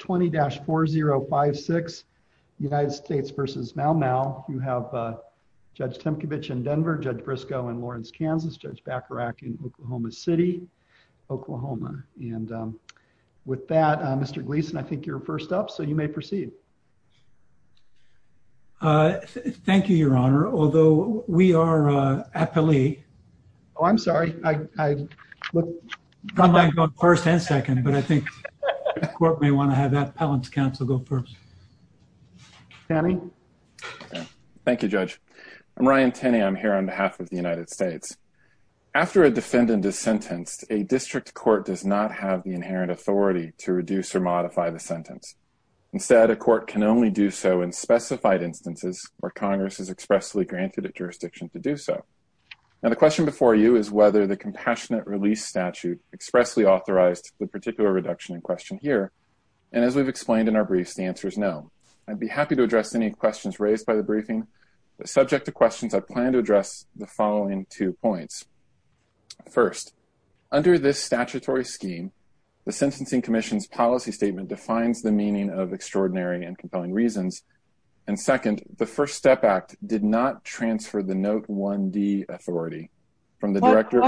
20-4056 United States v. Maumau. You have Judge Temkevich in Denver, Judge Briscoe in Lawrence, Kansas, Judge Bacharach in Oklahoma City, Oklahoma. And with that, Mr. Gleason, I think you're first up, so you may proceed. Thank you, Your Honor. Although we are aptly... Appellant's counsel go first. Thank you, Judge. I'm Ryan Tenney. I'm here on behalf of the United States. After a defendant is sentenced, a district court does not have the inherent authority to reduce or modify the sentence. Instead, a court can only do so in specified instances where Congress is expressly granted a jurisdiction to do so. Now, the question before you is whether the compassionate release statute expressly authorized the particular reduction in And as we've explained in our briefs, the answer is no. I'd be happy to address any questions raised by the briefing, but subject to questions, I plan to address the following two points. First, under this statutory scheme, the Sentencing Commission's policy statement defines the meaning of extraordinary and compelling reasons. And second, the First Step Act did not transfer the Note 1D authority from the director...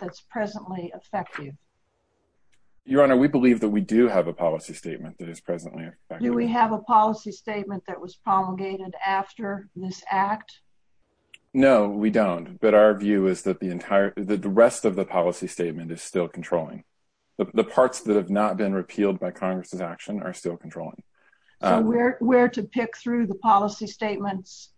that's presently effective. Your Honor, we believe that we do have a policy statement that is presently effective. Do we have a policy statement that was promulgated after this act? No, we don't. But our view is that the rest of the policy statement is still controlling. The parts that have not been repealed by Congress's action are still controlling. Where to pick through the policy statements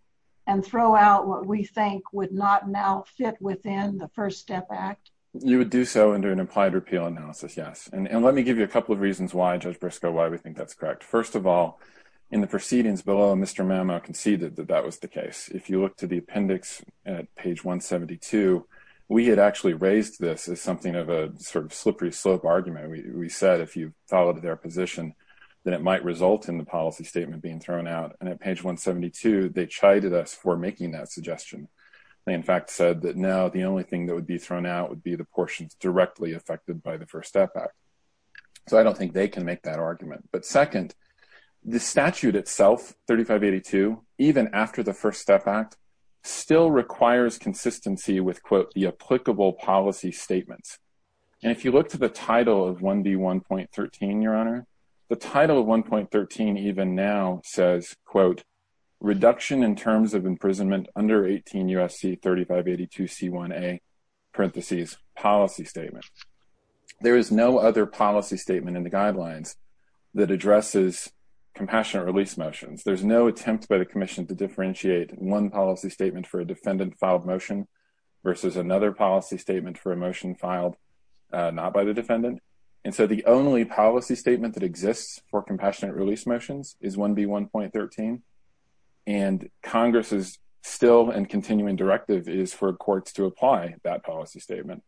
and throw out what we think would not now fit within the First Step Act? You would do so under an implied repeal analysis, yes. And let me give you a couple of reasons why, Judge Briscoe, why we think that's correct. First of all, in the proceedings below, Mr. Mamo conceded that that was the case. If you look to the appendix at page 172, we had actually raised this as something of a sort of slippery slope argument. We said if you followed their position, then it might result in the policy statement being thrown out. And at page 172, they chided us for making that suggestion. They, in fact, said that now the only thing that would be thrown out would be the portions directly affected by the First Step Act. So I don't think they can make that argument. But second, the statute itself, 3582, even after the First Step Act, still requires consistency with, quote, the applicable policy statements. And if you look to the title of 1B1.13, Your Honor, the title of 1.13 even now says, quote, reduction in terms of imprisonment under 18 U.S.C. 3582c1a parentheses policy statement. There is no other policy statement in the guidelines that addresses compassionate release motions. There's no attempt by the Commission to differentiate one policy statement for a defendant filed motion versus another policy statement for a motion filed not by the defendant. And so the only policy statement that exists for compassionate release motions is 1B1.13. And Congress's still and continuing directive is for courts to apply that policy statement.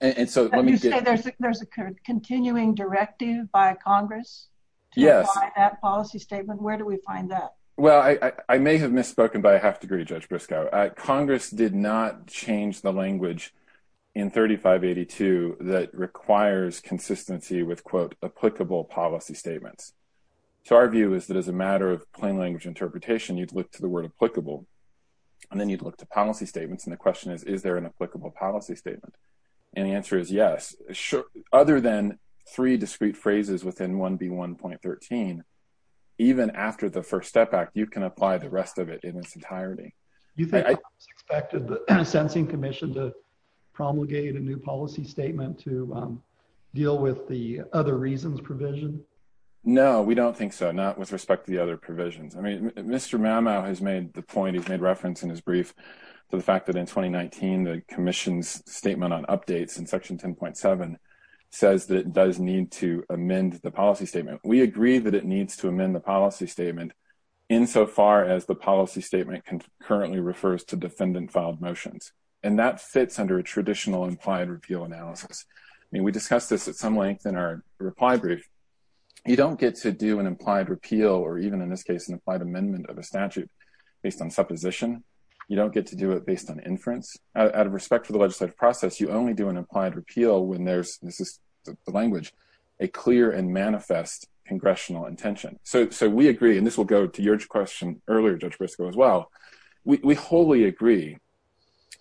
And so let me say there's a continuing directive by Congress. Yes. That policy statement. Where do we find that? Well, I may have misspoken by a half degree, Judge Briscoe. Congress did not change the language in 3582 that requires consistency with, quote, applicable policy statements. So our view is that as a matter of plain language interpretation, you'd look to the word applicable and then you'd look to policy statements. And the question is, is there an applicable policy statement? And the answer is yes. Other than three discrete phrases within 1B1.13, even after the First Step Act, you can apply the rest of it in its entirety. You think it's expected the Sensing Commission to promulgate a new policy statement to deal with the other reasons provision? No, we don't think so. Not with respect to the other provisions. I mean, Mr. Mamow has made the point, he's made reference in his brief to the fact that in 2019, the Commission's statement on updates in Section 10.7 says that it does need to amend the policy statement. We agree that it needs to amend the policy statement insofar as the policy statement currently refers to defendant filed motions. And that fits under a traditional implied repeal analysis. I mean, we discussed this at some length in our reply brief. You don't get to do an implied repeal, or even in this case, an implied amendment of a statute based on supposition. You don't get to do it based on inference. Out of respect for the legislative process, you only do an implied repeal when this is the language, a clear and manifest congressional intention. So we agree, and this will go to your question earlier, Judge Briscoe, as well. We wholly agree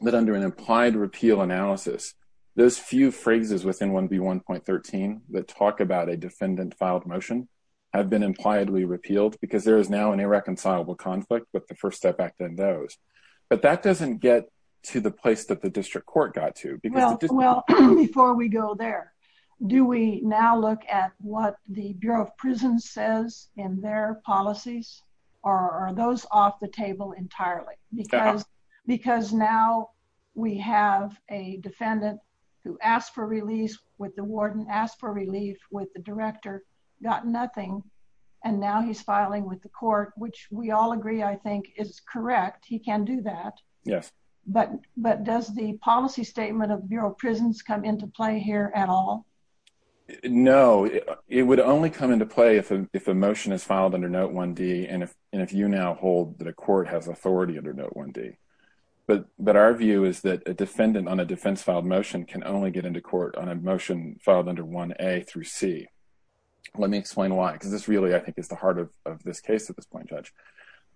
that under an implied repeal analysis, those few phrases within 1B1.13 that talk about a defendant filed motion have been impliedly repealed because there is now an irreconcilable conflict with the first step back than those. But that doesn't get to the place that the district court got to. Well, before we go there, do we now look at what the Bureau of Prisons says in their policies, or are those off the table entirely? Because now we have a defendant who asked for release with the warden, asked for relief with the director, got nothing, and now he's filing with the court, which we all agree, I think, is correct. He can do that. But does the policy statement of Bureau of Prisons come into play here at all? No, it would only come into play if a motion is filed under Note 1D, and if you now hold that a court has authority under Note 1D. But our view is that a defendant on a defense filed motion can only get into court on a motion filed under 1A through C. Let me explain why, because this really, I think, is the heart of this case at this point, Judge.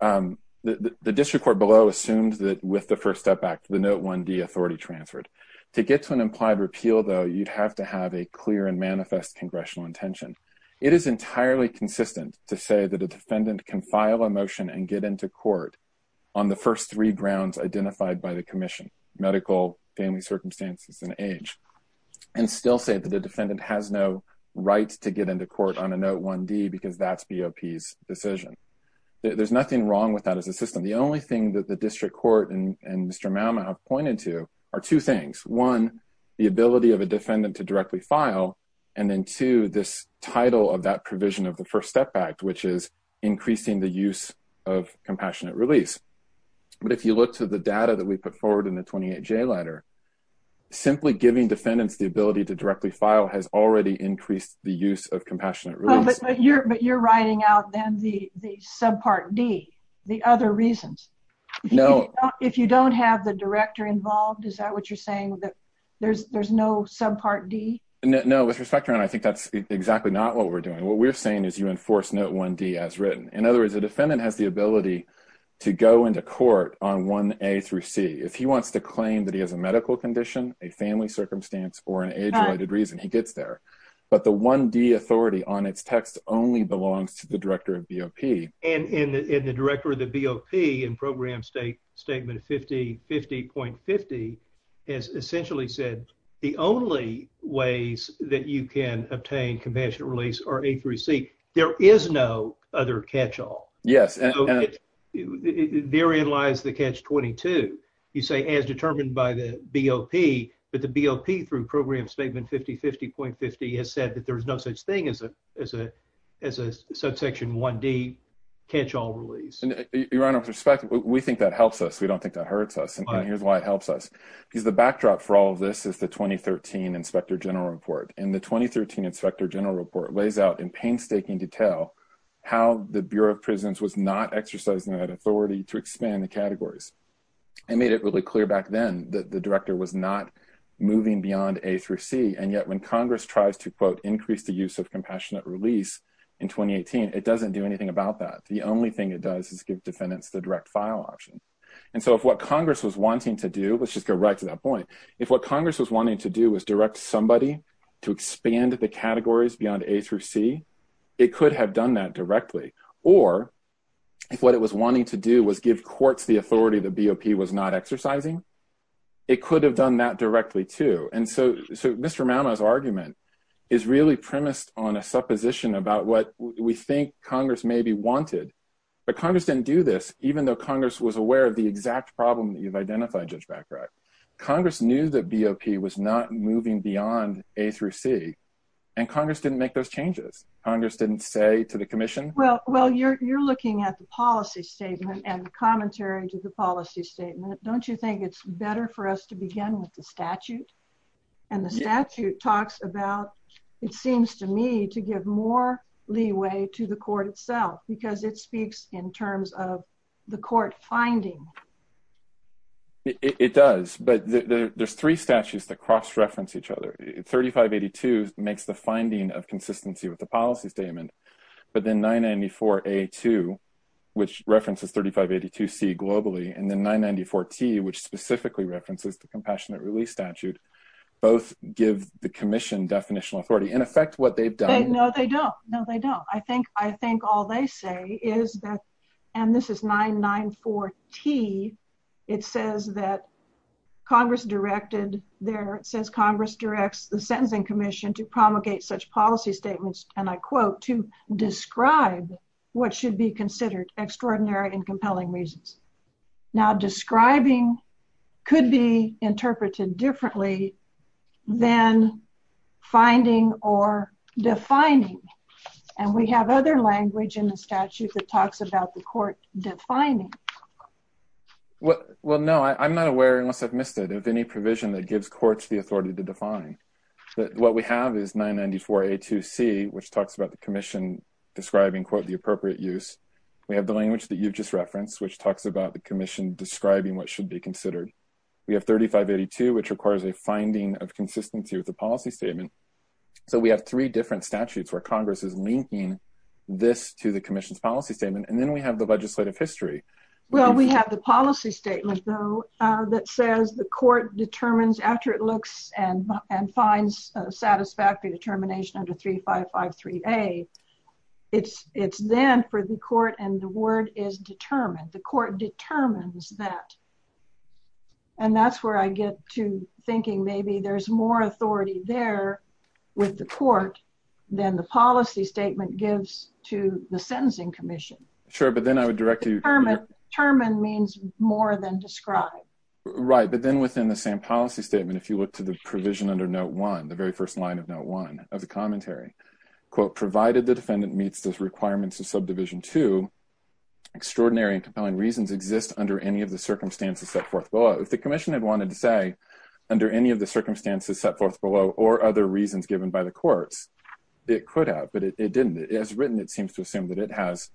The district court below assumes that with the first step back, the Note 1D authority transferred. To get to an implied repeal, though, you'd have to have a clear and manifest congressional intention. It is entirely consistent to say that a defendant can file a motion and get into court on the first three grounds identified by the commission, medical, family circumstances, and age, and still say that the defendant has no right to get into court on a Note 1D because that's BOP's decision. There's nothing wrong with that as a system. The only thing that the district court and Mr. Malma have pointed to are two things. One, the ability of a defendant to directly file, and then two, this title of that provision of the First Step Act, which is increasing the use of compassionate release. But if you look to the data that we put forward in the 28J letter, simply giving defendants the ability to directly file has already increased the use of compassionate release. But you're writing out then the subpart D, the other reasons. No. If you don't have the director involved, is that what you're saying, that there's no subpart D? No, with respect to that, I think that's exactly not what we're doing. What we're saying is you enforce Note 1D as written. In other words, a defendant has the ability to go into court on 1A through C. If he wants to claim that he has a medical condition, a family circumstance, or an age-related reason, he gets there. But the 1D authority on its text only belongs to the director of BOP. And the director of the BOP in Program State Statement 5050.50 has essentially said the only ways that you can obtain compassionate release are A through C. There is no other catch-all. Yes. Therein lies the catch-22. You say as determined by the BOP, but the BOP through Program Statement 5050.50 has said that there's no such thing as a subsection 1D catch-all release. Your Honor, with respect, we think that helps us. We don't think that hurts us. And here's why it helps us. Because the backdrop for all of this is the 2013 Inspector General Report. And the 2013 Inspector General Report lays out in painstaking detail how the Bureau of Prisons was not exercising that authority to expand the categories. It made it really clear back then that the director was not moving beyond A through C. And yet when Congress tries to, quote, increase the use of compassionate release in 2018, it doesn't do anything about that. The only thing it does is give defendants the direct file option. And so if what Congress was wanting to do, let's just go right to that point. If what Congress was wanting to do was direct somebody to expand the categories beyond A through C, it could have done that directly. Or if what it was wanting to do was give courts the authority that BOP was not exercising, it could have done that directly, too. And so Mr. Mama's argument is really premised on a supposition about what we think Congress maybe wanted. But Congress didn't do this, even though Congress was aware of the exact problem that you've identified, Judge Baccarat. Congress knew that BOP was not moving beyond A through C, and Congress didn't make those changes. Congress didn't say to the commission... Well, you're looking at the policy statement and commentary to the policy statement. Don't you think it's better for us to begin with the statute? And the statute talks about, it seems to me, to give more leeway to the court itself, because it speaks in terms of the court finding. It does. But there's three statutes that cross reference each other. 3582 makes the finding of consistency with the policy statement. But then 994A2, which references 3582C globally, and then 994T, which specifically references the Compassionate Release Statute, both give the commission definitional authority. In effect, what they've done... No, they don't. No, they don't. I think all they say is that... And this is 994T. It says that Congress directed... It says Congress directs the Sentencing Commission to promulgate such policy statements, and I quote, to describe what should be considered extraordinary and compelling reasons. Now, describing could be interpreted differently than finding or defining. And we have other language in the statute that talks about the court defining. Well, no. I'm not aware, unless I've missed it, of any provision that gives courts the authority to define. What we have is 994A2C, which talks about the commission describing, quote, the appropriate use. We have the language that you've just referenced, which talks about the commission describing what should be considered. We have 3582, which requires a finding of consistency with the policy statement. So we have three different statutes where Congress is linking this to the commission's policy statement. And then we have the legislative history. Well, we have the policy statement, though, that says the court determines after it looks and finds satisfactory determination under 3553A, it's then for the court and the word is determined. The court determines that. And that's where I get to thinking maybe there's more authority there with the court than the policy statement gives to the Sentencing Commission. Sure. But then I would direct you. Determine means more than describe. Right. But then within the same policy statement, if you look to the provision under Note 1, the very first line of Note 1 of the commentary, quote, provided the defendant meets those requirements of Subdivision 2, extraordinary and compelling reasons exist under any of the circumstances set forth below. If the commission had wanted to say under any of the circumstances set forth below or other reasons given by the courts, it could have. But it didn't. As written, it seems to assume that it has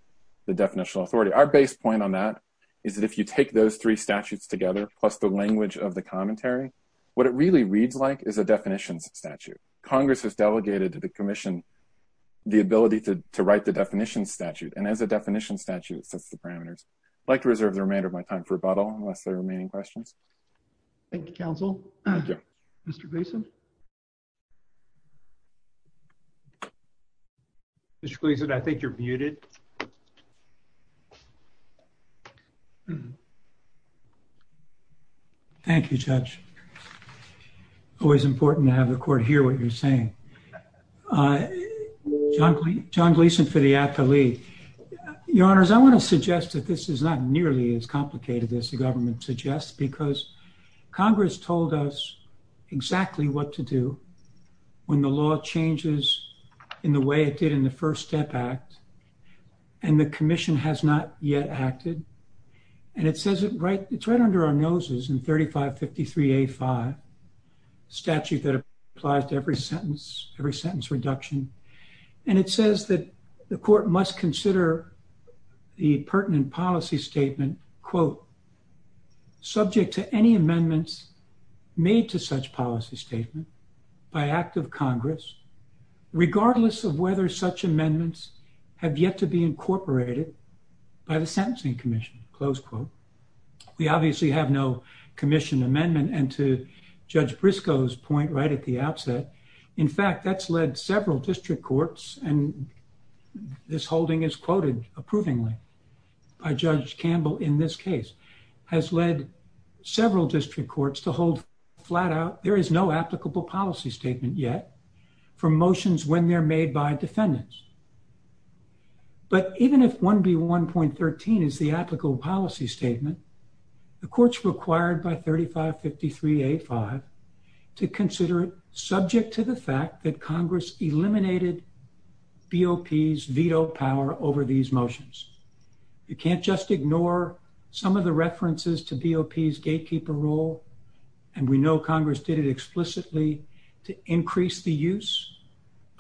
the definitional authority. Our base point on that is that if you take those three statutes together plus the language of the commentary, what it really reads like is a definitions statute. Congress has delegated to the commission the ability to write the definition statute. And as a definition statute, it sets the parameters. I'd like to reserve the remainder of my time for rebuttal unless there are remaining questions. Thank you, counsel. Mr. Basin? Mr. Gleason, I think you're muted. Thank you, Judge. Always important to have the court hear what you're saying. John Gleason for the athlete. Your Honors, I want to suggest that this is not nearly as complicated as the government suggests because Congress told us exactly what to do when the law changes in the way it did in the First Step Act. And the commission has not yet acted. And it says it's right under our noses in 3553A5, statute that applies to every sentence, every sentence reduction. And it says that the court must consider the pertinent policy statement, quote, subject to any amendments made to such policy statement by act of Congress regardless of whether such amendments have yet to be incorporated by the sentencing commission, close quote. We obviously have no commission amendment. And to Judge Briscoe's point right at the outset, in fact, that's led several district courts. And this holding is quoted approvingly by Judge Campbell in this case has led several district courts to hold flat out. There is no applicable policy statement yet for motions when they're made by defendants. But even if 1B1.13 is the applicable policy statement, the court's required by 3553A5 to consider it subject to the fact that Congress eliminated BOP's veto power over these motions. You can't just ignore some of the references to BOP's gatekeeper role. And we know Congress did it explicitly to increase the use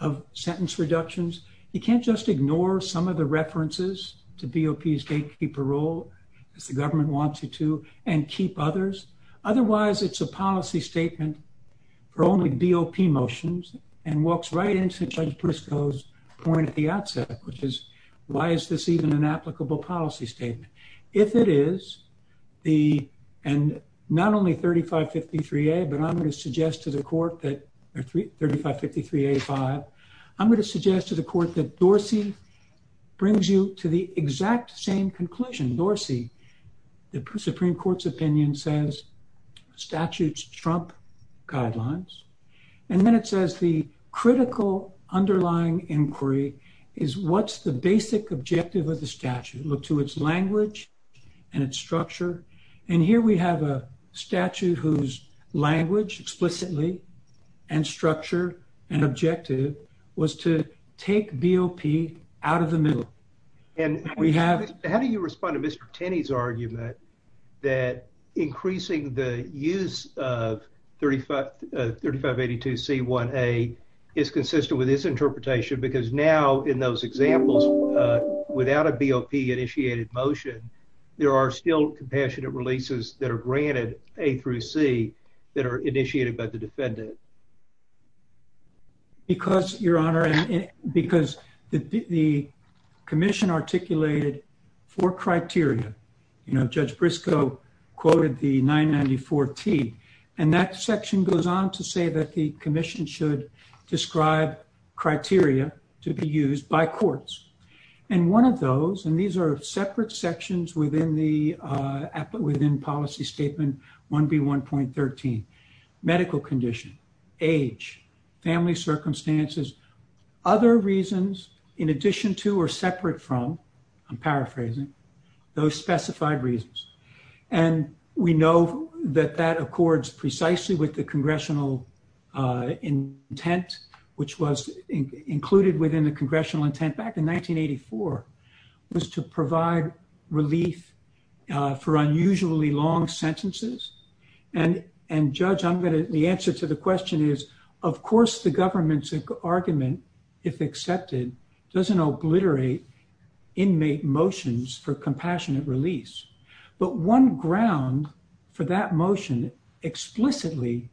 of sentence reductions. You can't just ignore some of the references to BOP's gatekeeper role as the government wants you to and keep others. Otherwise, it's a policy statement for only BOP motions and walks right into Judge Briscoe's point at the outset, which is why is this even an applicable policy statement? If it is, and not only 3553A, but I'm going to suggest to the court that 3553A5, I'm going to suggest to the court that Dorsey brings you to the exact same conclusion. Dorsey, the Supreme Court's opinion says statutes trump guidelines. And then it says the critical underlying inquiry is what's the basic objective of the statute. Look to its language and its structure. And here we have a statute whose language explicitly and structure and objective was to take BOP out of the middle. And we have... How do you respond to Mr. Tenney's argument that increasing the use of 3582C1A is consistent with his interpretation, because now in those examples, without a BOP initiated motion, there are still compassionate releases that are not. Yes, Your Honor, because the commission articulated four criteria. Judge Briscoe quoted the 994T. And that section goes on to say that the commission should describe criteria to be used by courts. And one of those, and these are separate sections within policy statement 1B1.13, medical condition, age, family circumstances, other reasons in addition to or separate from, I'm paraphrasing, those specified reasons. And we know that that accords precisely with the congressional intent, which was included within the congressional intent back in 1984, was to provide relief for unusually long sentences. And, Judge, the answer to the question is, of course, the government's argument, if accepted, doesn't obliterate inmate motions for compassionate release. But one ground for that motion explicitly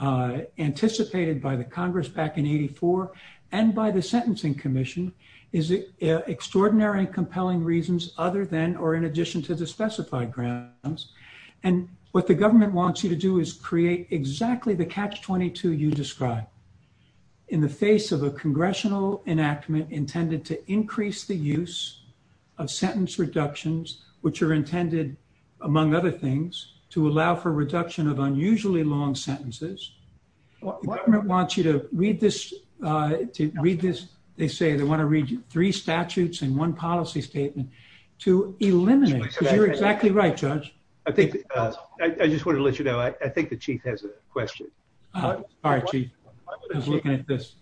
anticipated by the Congress back in 84 and by the Sentencing Commission is extraordinary and compelling reasons other than or in addition to the specified grounds. And what the government wants you to do is create exactly the catch-22 you described in the face of a congressional enactment intended to increase the use of sentence reductions, which are intended, among other things, to allow for reduction of unusually long sentences. The government wants you to read this, they say they want to read three statutes and one policy statement to eliminate, because you're exactly right, Judge. I think, I just wanted to let you know, I think the chief has a question. All right, Chief. I was looking at this.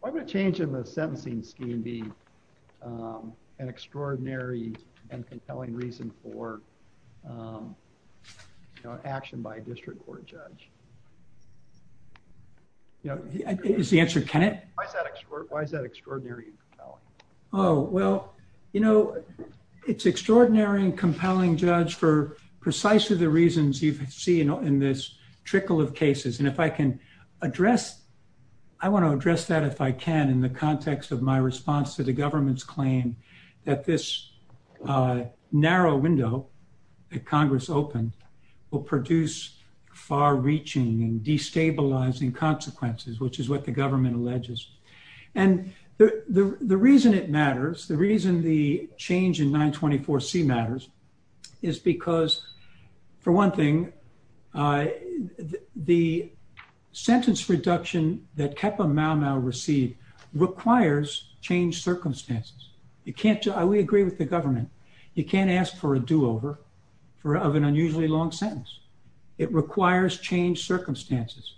Why would a change in the sentencing scheme be an extraordinary and compelling reason for action by a district court judge? Is the answer, Kenneth? Why is that extraordinary and compelling? Oh, well, you know, it's extraordinary and compelling, Judge, for precisely the reasons you've seen in this trickle of cases. And if I can address, I want to address that if I can in the context of my response to the government's claim that this narrow window that Congress opened will produce far-reaching and destabilizing consequences, which is what the government alleges. And the reason it matters, the reason the change in 924C matters is because, for one thing, the sentence reduction that Kappa Mau Mau received requires changed circumstances. You can't, we agree with the government, you can't ask for a do-over of an unusually long sentence. It requires changed circumstances.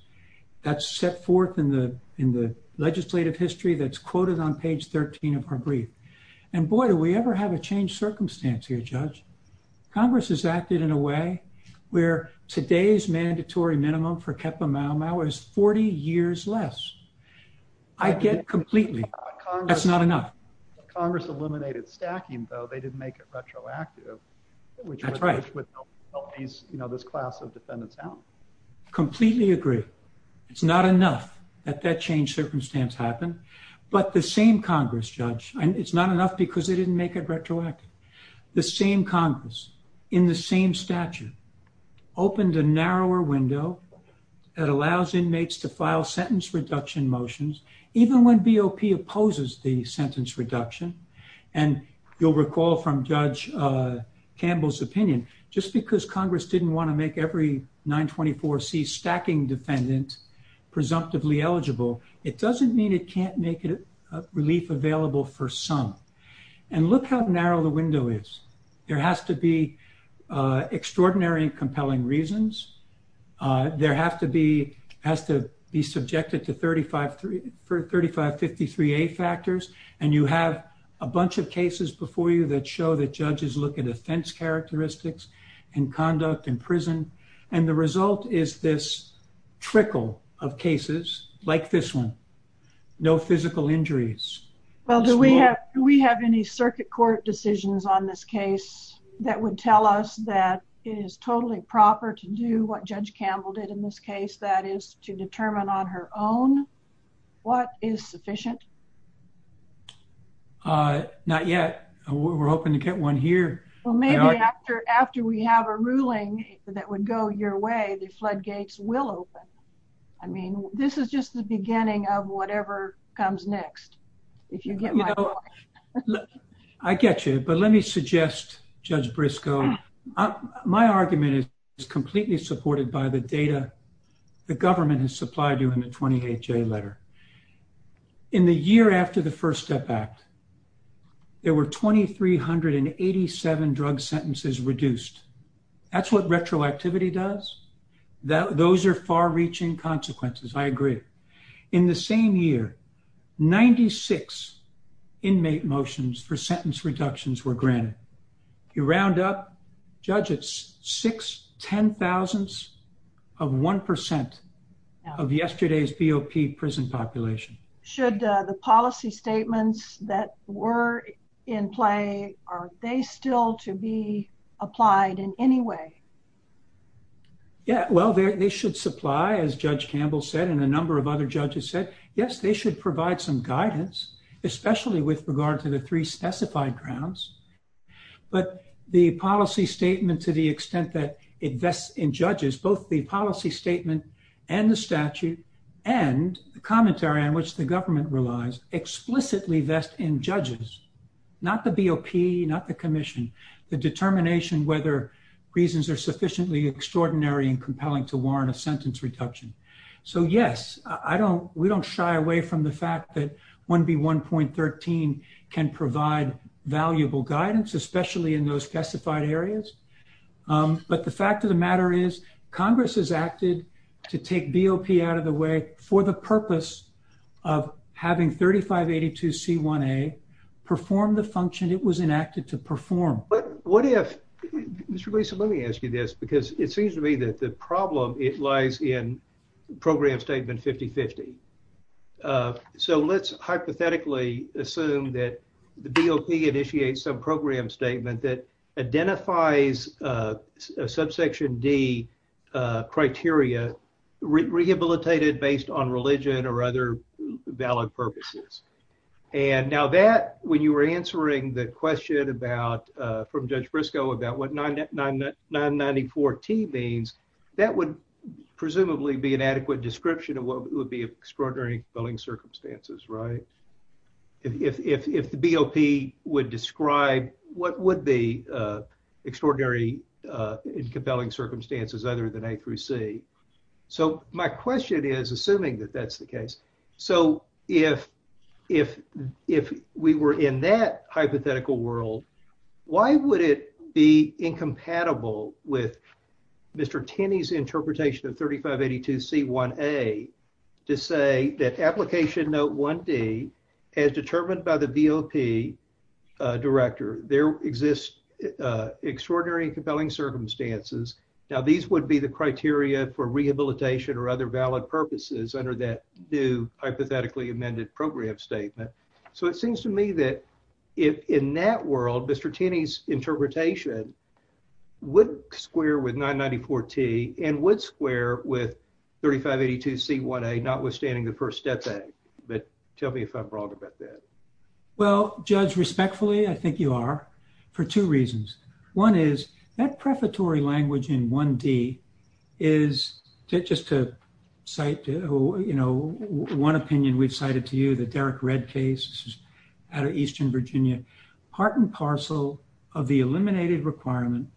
That's set forth in the legislative history that's quoted on page 13 of her brief. And boy, do we ever have a changed circumstance here, Judge. Congress has acted in a way where today's mandatory minimum for Kappa Mau Mau is 40 years less. I get completely, that's not enough. Congress eliminated stacking, though, they didn't make it retroactive, which would help these, you know, this class of defendants out. Completely agree. It's not enough that that changed circumstance happened, but the same Congress, Judge, and it's not enough because they didn't make it retroactive. The same Congress, in the same statute, opened a narrower window that allows inmates to file sentence reduction motions, even when BOP opposes the sentence reduction. And you'll recall from Judge Campbell's opinion, just because Congress didn't want to make every 924C stacking defendant presumptively eligible, it doesn't mean it can't make it a relief available for some. And look how narrow the window is. There has to be extraordinary and compelling reasons. There have to be, has to be subjected to 3553A factors. And you have a bunch of cases before you that show that judges look at offense characteristics and conduct in prison. And the result is this trickle of cases like this one, no physical injuries. Well, do we have, do we have any circuit court decisions on this case that would tell us that it is totally proper to do what Judge Campbell did in this case, that is to determine on her own what is sufficient? Uh, not yet. We're hoping to get one here. Well, maybe after, after we have a ruling that would go your way, the floodgates will open. I mean, this is just the beginning of whatever comes next. If you get my point. I get you, but let me suggest, Judge Briscoe, my argument is completely supported by the data the government has supplied you in the 28J letter. In the year after the First Step Act, there were 2387 drug sentences reduced. That's what retroactivity does. Those are far-reaching consequences. I agree. In the same year, 96 inmate motions for sentence reductions were granted. You round up, Judge, it's six, ten thousandths of 1% of yesterday's BOP prison population. Should the policy statements that were in play, are they still to be applied in any way? Yeah, well, they should supply, as Judge Campbell said, and a number of other judges said, yes, they should provide some guidance, especially with regard to the three specified grounds. But the policy statement to the extent that it vests in judges, both the policy statement and the statute and the commentary on which the government relies, explicitly vest in judges, not the BOP, not the commission, the determination whether reasons are sufficiently extraordinary and compelling to warrant a sentence reduction. So, yes, we don't shy away from the fact that 1B1.13 can provide valuable guidance, especially in those specified areas. But the fact of the matter is, Congress has acted to take BOP out of the way for the purpose of having 3582C1A perform the function it was enacted to perform. But what if, Mr. Gleason, let me ask you this, because it seems to me that the problem, it lies in Program Statement 5050. So let's hypothetically assume that the BOP initiates some program statement that identifies a Subsection D criteria rehabilitated based on religion or other valid purposes. And now that, when you were answering the question about, from Judge Briscoe, about what 994T means, that would presumably be an adequate description of extraordinary and compelling circumstances, right? If the BOP would describe what would be extraordinary and compelling circumstances other than A through C. So my question is, assuming that that's the case, so if we were in that hypothetical world, why would it be to say that Application Note 1D, as determined by the BOP Director, there exists extraordinary and compelling circumstances. Now these would be the criteria for rehabilitation or other valid purposes under that new hypothetically amended program statement. So it seems to me that if in that world, Mr. Tenney's interpretation would square with 994T and would square with notwithstanding the First Step Act. But tell me if I'm wrong about that. Well, Judge, respectfully, I think you are, for two reasons. One is, that prefatory language in 1D is, just to cite one opinion we've cited to you, the Derek Redd case out of Eastern Virginia, part and parcel of the eliminated requirement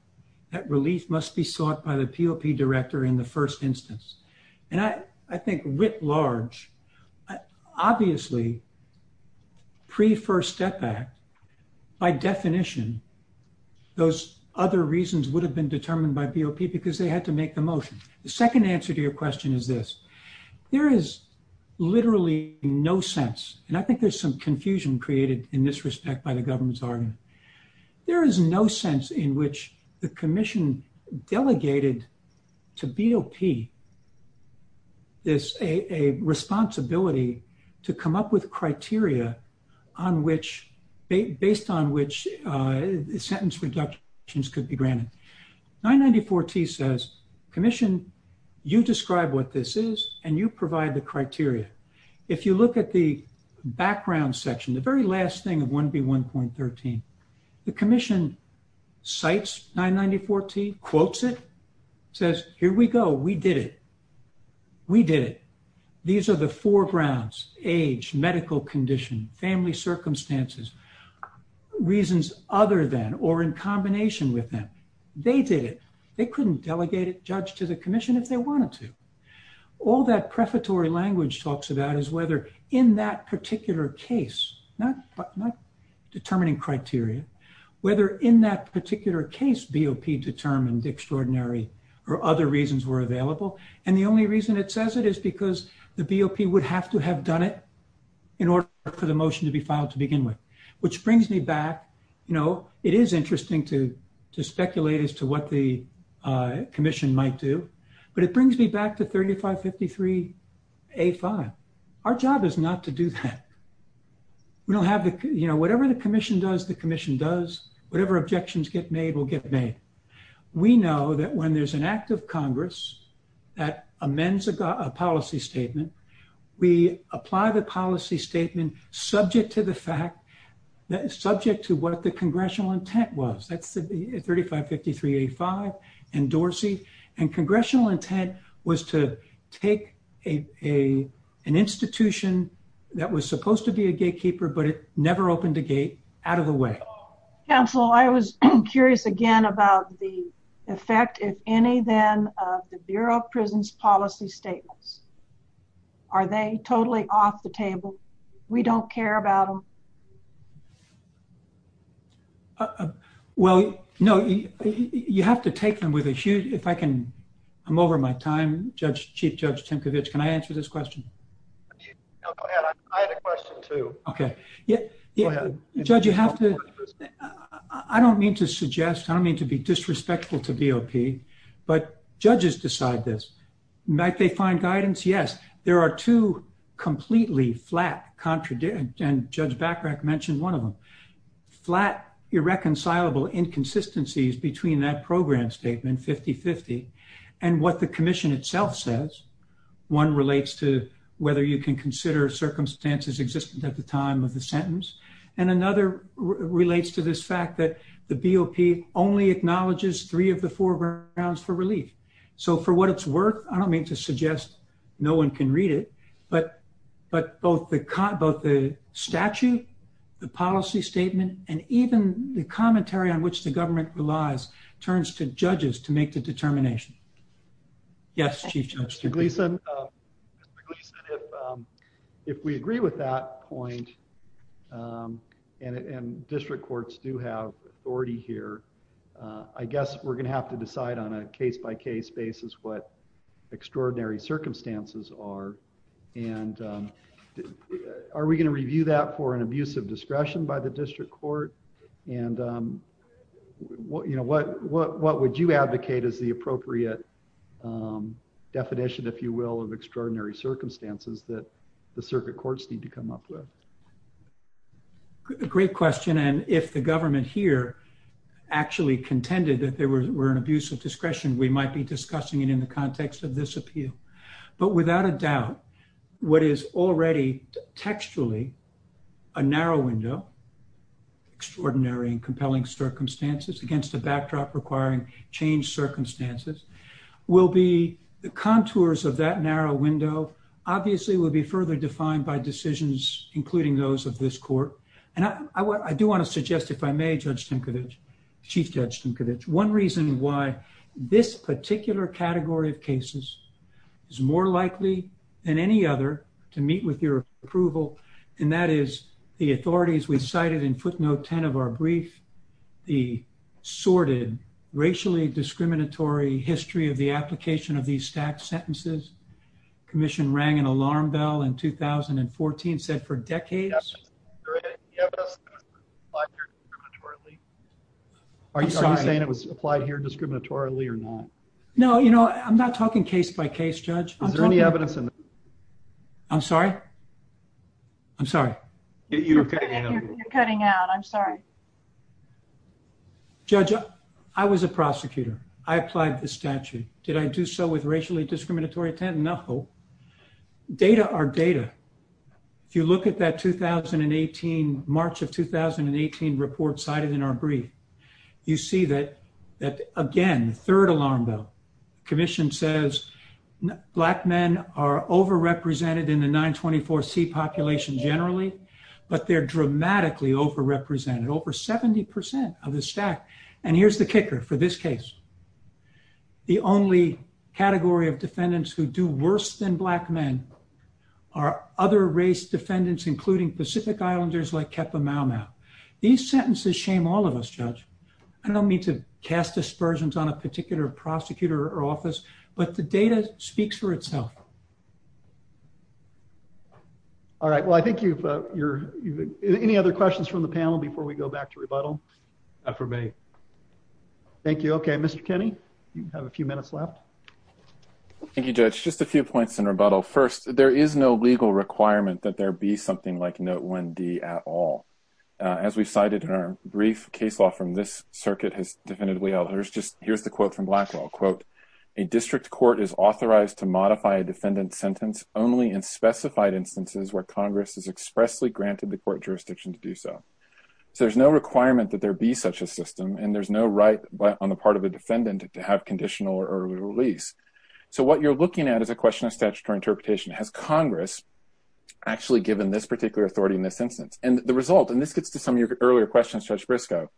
that relief must be sought by the BOP Director in the first instance. And I think writ large, obviously, pre-First Step Act, by definition, those other reasons would have been determined by BOP because they had to make the motion. The second answer to your question is this. There is literally no sense, and I think there's some confusion created in this respect by the government's argument. There is no sense in the commission delegated to BOP a responsibility to come up with criteria based on which sentence reductions could be granted. 994T says, commission, you describe what this is and you provide the criteria. If you look at the background section, the very last thing of 1B1.13, the commission cites 994T, quotes it, says, here we go, we did it. We did it. These are the four grounds, age, medical condition, family circumstances, reasons other than or in combination with them. They did it. They couldn't delegate it, Judge, to the commission if they wanted to. All that prefatory language talks about is whether in that particular case, not determining criteria, whether in that particular case, BOP determined extraordinary or other reasons were available. The only reason it says it is because the BOP would have to have done it in order for the motion to be filed to begin with, which brings me back. It is interesting to speculate as to what the commission might do, but it brings me back to 3553A5. Our job is not to do that. Whatever the commission does, the commission does. Whatever objections get made will get made. We know that when there is an act of Congress that amends a policy statement, we apply the policy statement subject to the fact, subject to what the congressional intent was. That is 3553A5 and Dorsey. Congressional intent was to take an institution that was supposed to be a gatekeeper, but it never opened a gate, out of the way. Counsel, I was curious again about the effect, if any then, of the Bureau of Prisons policy statements. Are they totally off the table? We don't care about them? Well, no, you have to take them with a huge, if I can, I'm over my time. Chief Judge Timkovich, can I answer this question? Go ahead. I had a question too. Okay. Go ahead. Judge, you have to, I don't mean to suggest, I don't mean to be disrespectful to BOP, but judges decide this. Might they find guidance? Yes. There are two completely flat contradictions, and Judge Bachrach mentioned one of them. Flat, irreconcilable inconsistencies between that program statement, 50-50, and what the commission itself says. One relates to whether you can consider circumstances existent at the time of the sentence. And another relates to this fact that the BOP only acknowledges three of the four grounds for relief. So for what it's worth, I don't mean to suggest no one can read it, but both the statute, the policy statement, and even the commentary on which the government relies turns to judges to make the determination. Yes, Chief Judge. Mr. Gleeson, if we agree with that point, and district courts do have authority here, I guess we're going to have to decide on a and are we going to review that for an abuse of discretion by the district court? And what would you advocate as the appropriate definition, if you will, of extraordinary circumstances that the circuit courts need to come up with? Great question. And if the government here actually contended that there were an abuse of discretion, we might be discussing it in the context of this appeal. But without a doubt, what is already textually a narrow window, extraordinary and compelling circumstances against a backdrop requiring changed circumstances will be the contours of that narrow window, obviously, will be further defined by decisions, including those of this court. And I do want to suggest, if I may, Judge Tinkovich, Chief Judge Tinkovich, one reason why this particular category of cases is more likely than any other to meet with your approval. And that is the authorities we cited in footnote 10 of our brief, the sorted racially discriminatory history of the application of these stack sentences. Commission rang an alarm bell in 2014 said for decades. Great. Are you saying it was applied here discriminatorily or not? No, you know, I'm not talking case by case, Judge. Is there any evidence? I'm sorry. I'm sorry. You're cutting out. I'm sorry. Judge, I was a prosecutor. I applied the statute. Did I do so with racially discriminatory 10? No. Data are data. If you look at that 2018 March of 2018 report cited in our brief, you see that that again, the third alarm bell commission says black men are overrepresented in the 924 C population generally, but they're dramatically overrepresented over 70% of the stack. And here's the kicker for this case. The only category of defendants who do worse than black men are other race defendants, including Pacific Islanders like Kepa Mau Mau. These sentences shame all of us, Judge. I don't mean to cast aspersions on a particular prosecutor or office, but the data speaks for itself. All right. Well, I think you've, uh, you're, you've any other questions from the panel before we go back to rebuttal for me. Thank you. Okay. Mr. Kenny, you have a few minutes left. Thank you, Judge. Just a few points in rebuttal. First, there is no legal requirement that there be something like no one D at all. Uh, as we cited in our brief case law from this circuit has definitively elders. Just here's the quote from Blackwell quote. A district court is authorized to modify a defendant sentence only in specified instances where Congress has expressly the court jurisdiction to do so. So there's no requirement that there be such a system and there's no right on the part of a defendant to have conditional or early release. So what you're looking at is a question of statutory interpretation. Has Congress actually given this particular authority in this instance and the result, and this gets to some of your earlier questions, Judge Briscoe,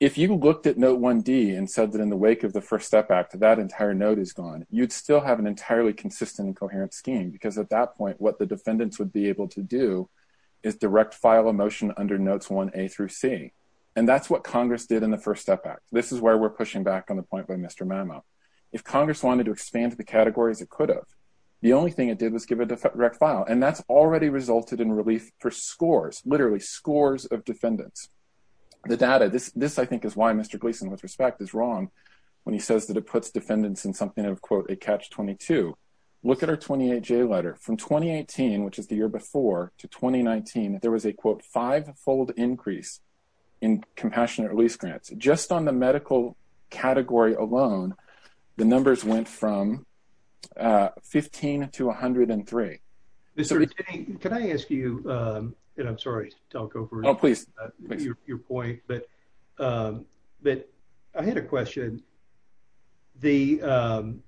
if you looked at note one D and said that in the wake of the first step back to that entire note is gone, you'd still have an entirely consistent and coherent scheme because at that point what the defendants would be able to do is direct file emotion under notes one A through C. And that's what Congress did in the first step back. This is where we're pushing back on the point by Mr Mamo. If Congress wanted to expand the categories, it could have. The only thing it did was give a direct file and that's already resulted in relief for scores, literally scores of defendants. The data, this, this I think is why Mr Gleason with respect is wrong when he from 2018, which is the year before to 2019, there was a quote five fold increase in compassionate release grants just on the medical category alone. The numbers went from 15 to 103. Can I ask you, and I'm sorry to talk over your point, but I had a question. The, um,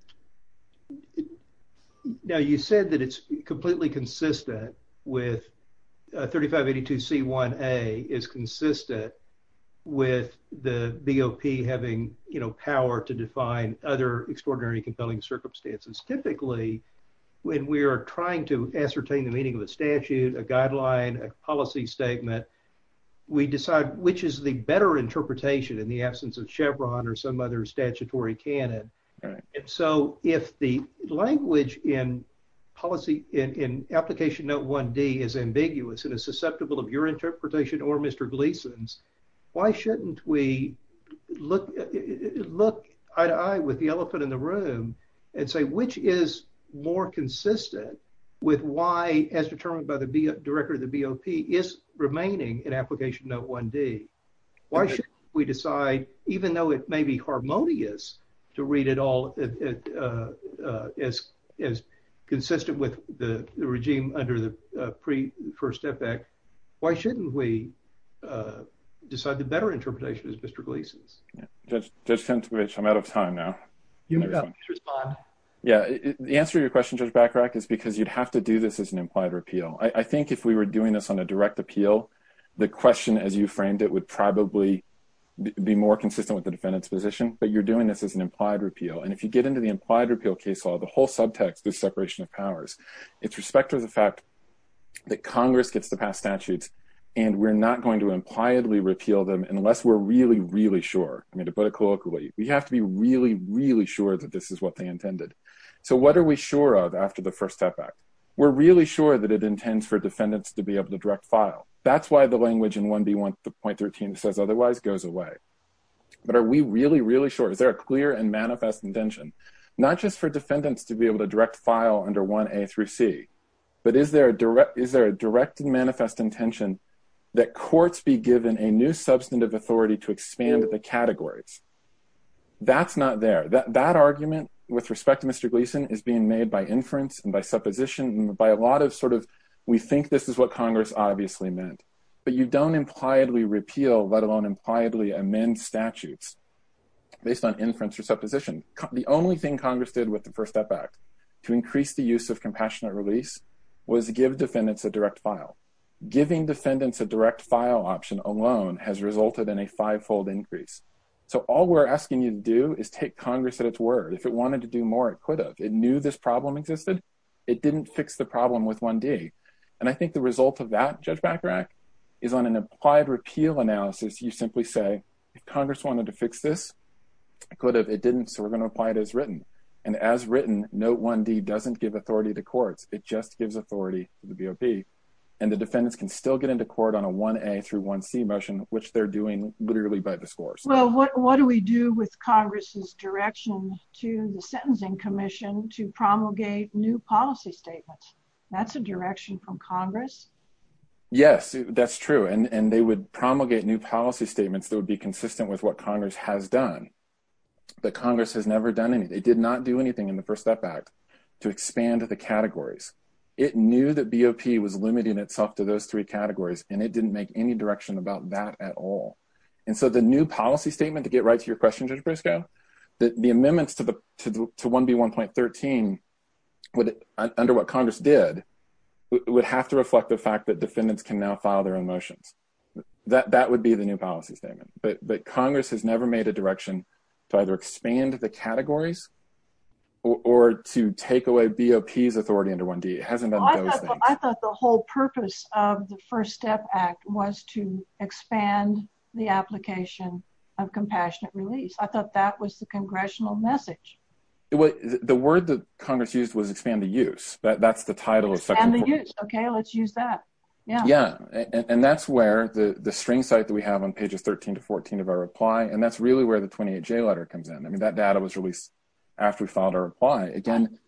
now you said that it's completely consistent with 3582C1A is consistent with the BOP having, you know, power to define other extraordinary compelling circumstances. Typically when we are trying to ascertain the meaning of a statute, a guideline, a policy statement, we decide which is the better interpretation in the absence of Chevron or some other statutory canon. And so if the language in policy in application note one D is ambiguous and is susceptible of your interpretation or Mr. Gleason's, why shouldn't we look, look eye to eye with the elephant in the room and say, which is more consistent with why as determined by the director of the BOP is remaining in application note one D. Why should we decide, even though it may be harmonious to read it all as, as consistent with the regime under the pre first effect, why shouldn't we decide the better interpretation as Mr. Gleason's? Judge, I'm out of time now. Yeah. The answer to your question, Judge Bachrach is because you'd have to do this as an implied repeal. I think if we were doing this on a direct appeal, the question as you framed it would probably be more consistent with the defendant's position, but you're doing this as an implied repeal. And if you get into the implied repeal case law, the whole subtext is separation of powers. It's respect to the fact that Congress gets to pass statutes and we're not going to impliedly repeal them unless we're really, really sure. I mean, to put it colloquially, we have to be really, really sure that this is what they intended. So what are we sure of after the first step back? We're really sure that it That's why the language in 1B1.13 that says otherwise goes away. But are we really, really sure? Is there a clear and manifest intention, not just for defendants to be able to direct file under 1A through C, but is there a direct, is there a direct and manifest intention that courts be given a new substantive authority to expand the categories? That's not there. That argument with respect to Mr. Gleason is being made by inference and by supposition and by a lot of we think this is what Congress obviously meant. But you don't impliedly repeal, let alone impliedly amend statutes based on inference or supposition. The only thing Congress did with the First Step Act to increase the use of compassionate release was give defendants a direct file. Giving defendants a direct file option alone has resulted in a fivefold increase. So all we're asking you to do is take Congress at its word. If it wanted to do more, it could have. It knew this problem existed. It didn't fix the problem with 1D. And I think the result of that, Judge Bachrach, is on an implied repeal analysis, you simply say, if Congress wanted to fix this, it could have. It didn't, so we're going to apply it as written. And as written, Note 1D doesn't give authority to courts. It just gives authority to the BOP. And the defendants can still get into court on a 1A through 1C motion, which they're doing literally by discourse. Well, what do we do with Congress's direction to the Sentencing Commission to promulgate new policy statements? That's a direction from Congress? Yes, that's true. And they would promulgate new policy statements that would be consistent with what Congress has done. But Congress has never done anything. They did not do anything in the First Step Act to expand the categories. It knew that BOP was limiting itself to those three categories, and it didn't make any direction about that at all. And so the new policy statement, to get right to your question, Judge Briscoe, the amendments to 1B1.13, under what Congress did, would have to reflect the fact that defendants can now file their own motions. That would be the new policy statement. But Congress has never made a direction to either expand the categories or to take away BOP's authority under 1D. It hasn't done those things. I thought the whole purpose of the First Step Act was to expand the application of compassionate release. I thought that was the congressional message. The word that Congress used was expand the use. That's the title. Expand the use. Okay, let's use that. Yeah. Yeah. And that's where the string site that we have on pages 13 to 14 of our reply, and that's really where the 28J letter comes in. I mean, that data was released after we filed our reply. Again,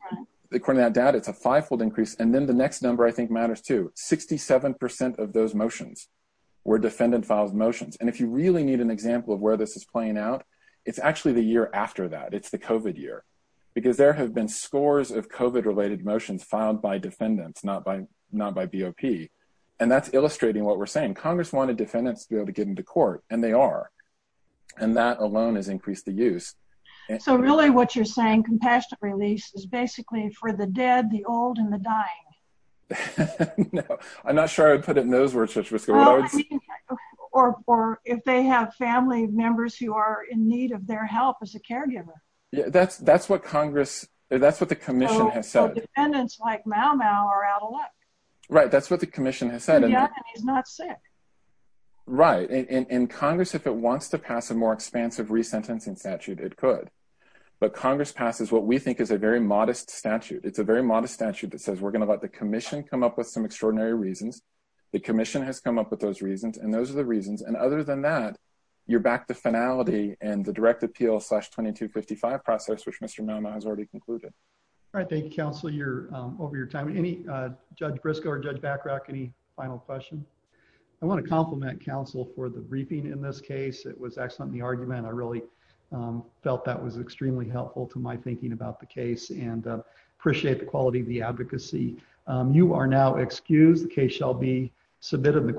according to that data, it's a five-fold increase. And then the next number I think matters too. 67% of those motions were defendant-filed motions. And if you need an example of where this is playing out, it's actually the year after that. It's the COVID year. Because there have been scores of COVID-related motions filed by defendants, not by BOP. And that's illustrating what we're saying. Congress wanted defendants to be able to get into court, and they are. And that alone has increased the use. So really what you're saying, compassionate release is basically for the dead, the old, and the dying. No, I'm not sure I would put it in those words. Or if they have family members who are in need of their help as a caregiver. Yeah, that's what the commission has said. So defendants like Mau Mau are out of luck. Right. That's what the commission has said. And he's not sick. Right. And Congress, if it wants to pass a more expansive re-sentencing statute, it could. But Congress passes what we think is a very modest statute. It's a very modest statute that says we're going to let the commission come up with some extraordinary reasons. The commission has come up with those reasons, and those are the reasons. And other than that, you're back to finality and the direct appeal slash 2255 process, which Mr. Mau Mau has already concluded. All right. Thank you, counsel. You're over your time. Any, Judge Briscoe or Judge Bachrach, any final question? I want to compliment counsel for the briefing in this case. It was excellent, the argument. I really felt that was extremely helpful to my thinking about the case and appreciate the quality of the advocacy. You are now excused. The case shall be submitted.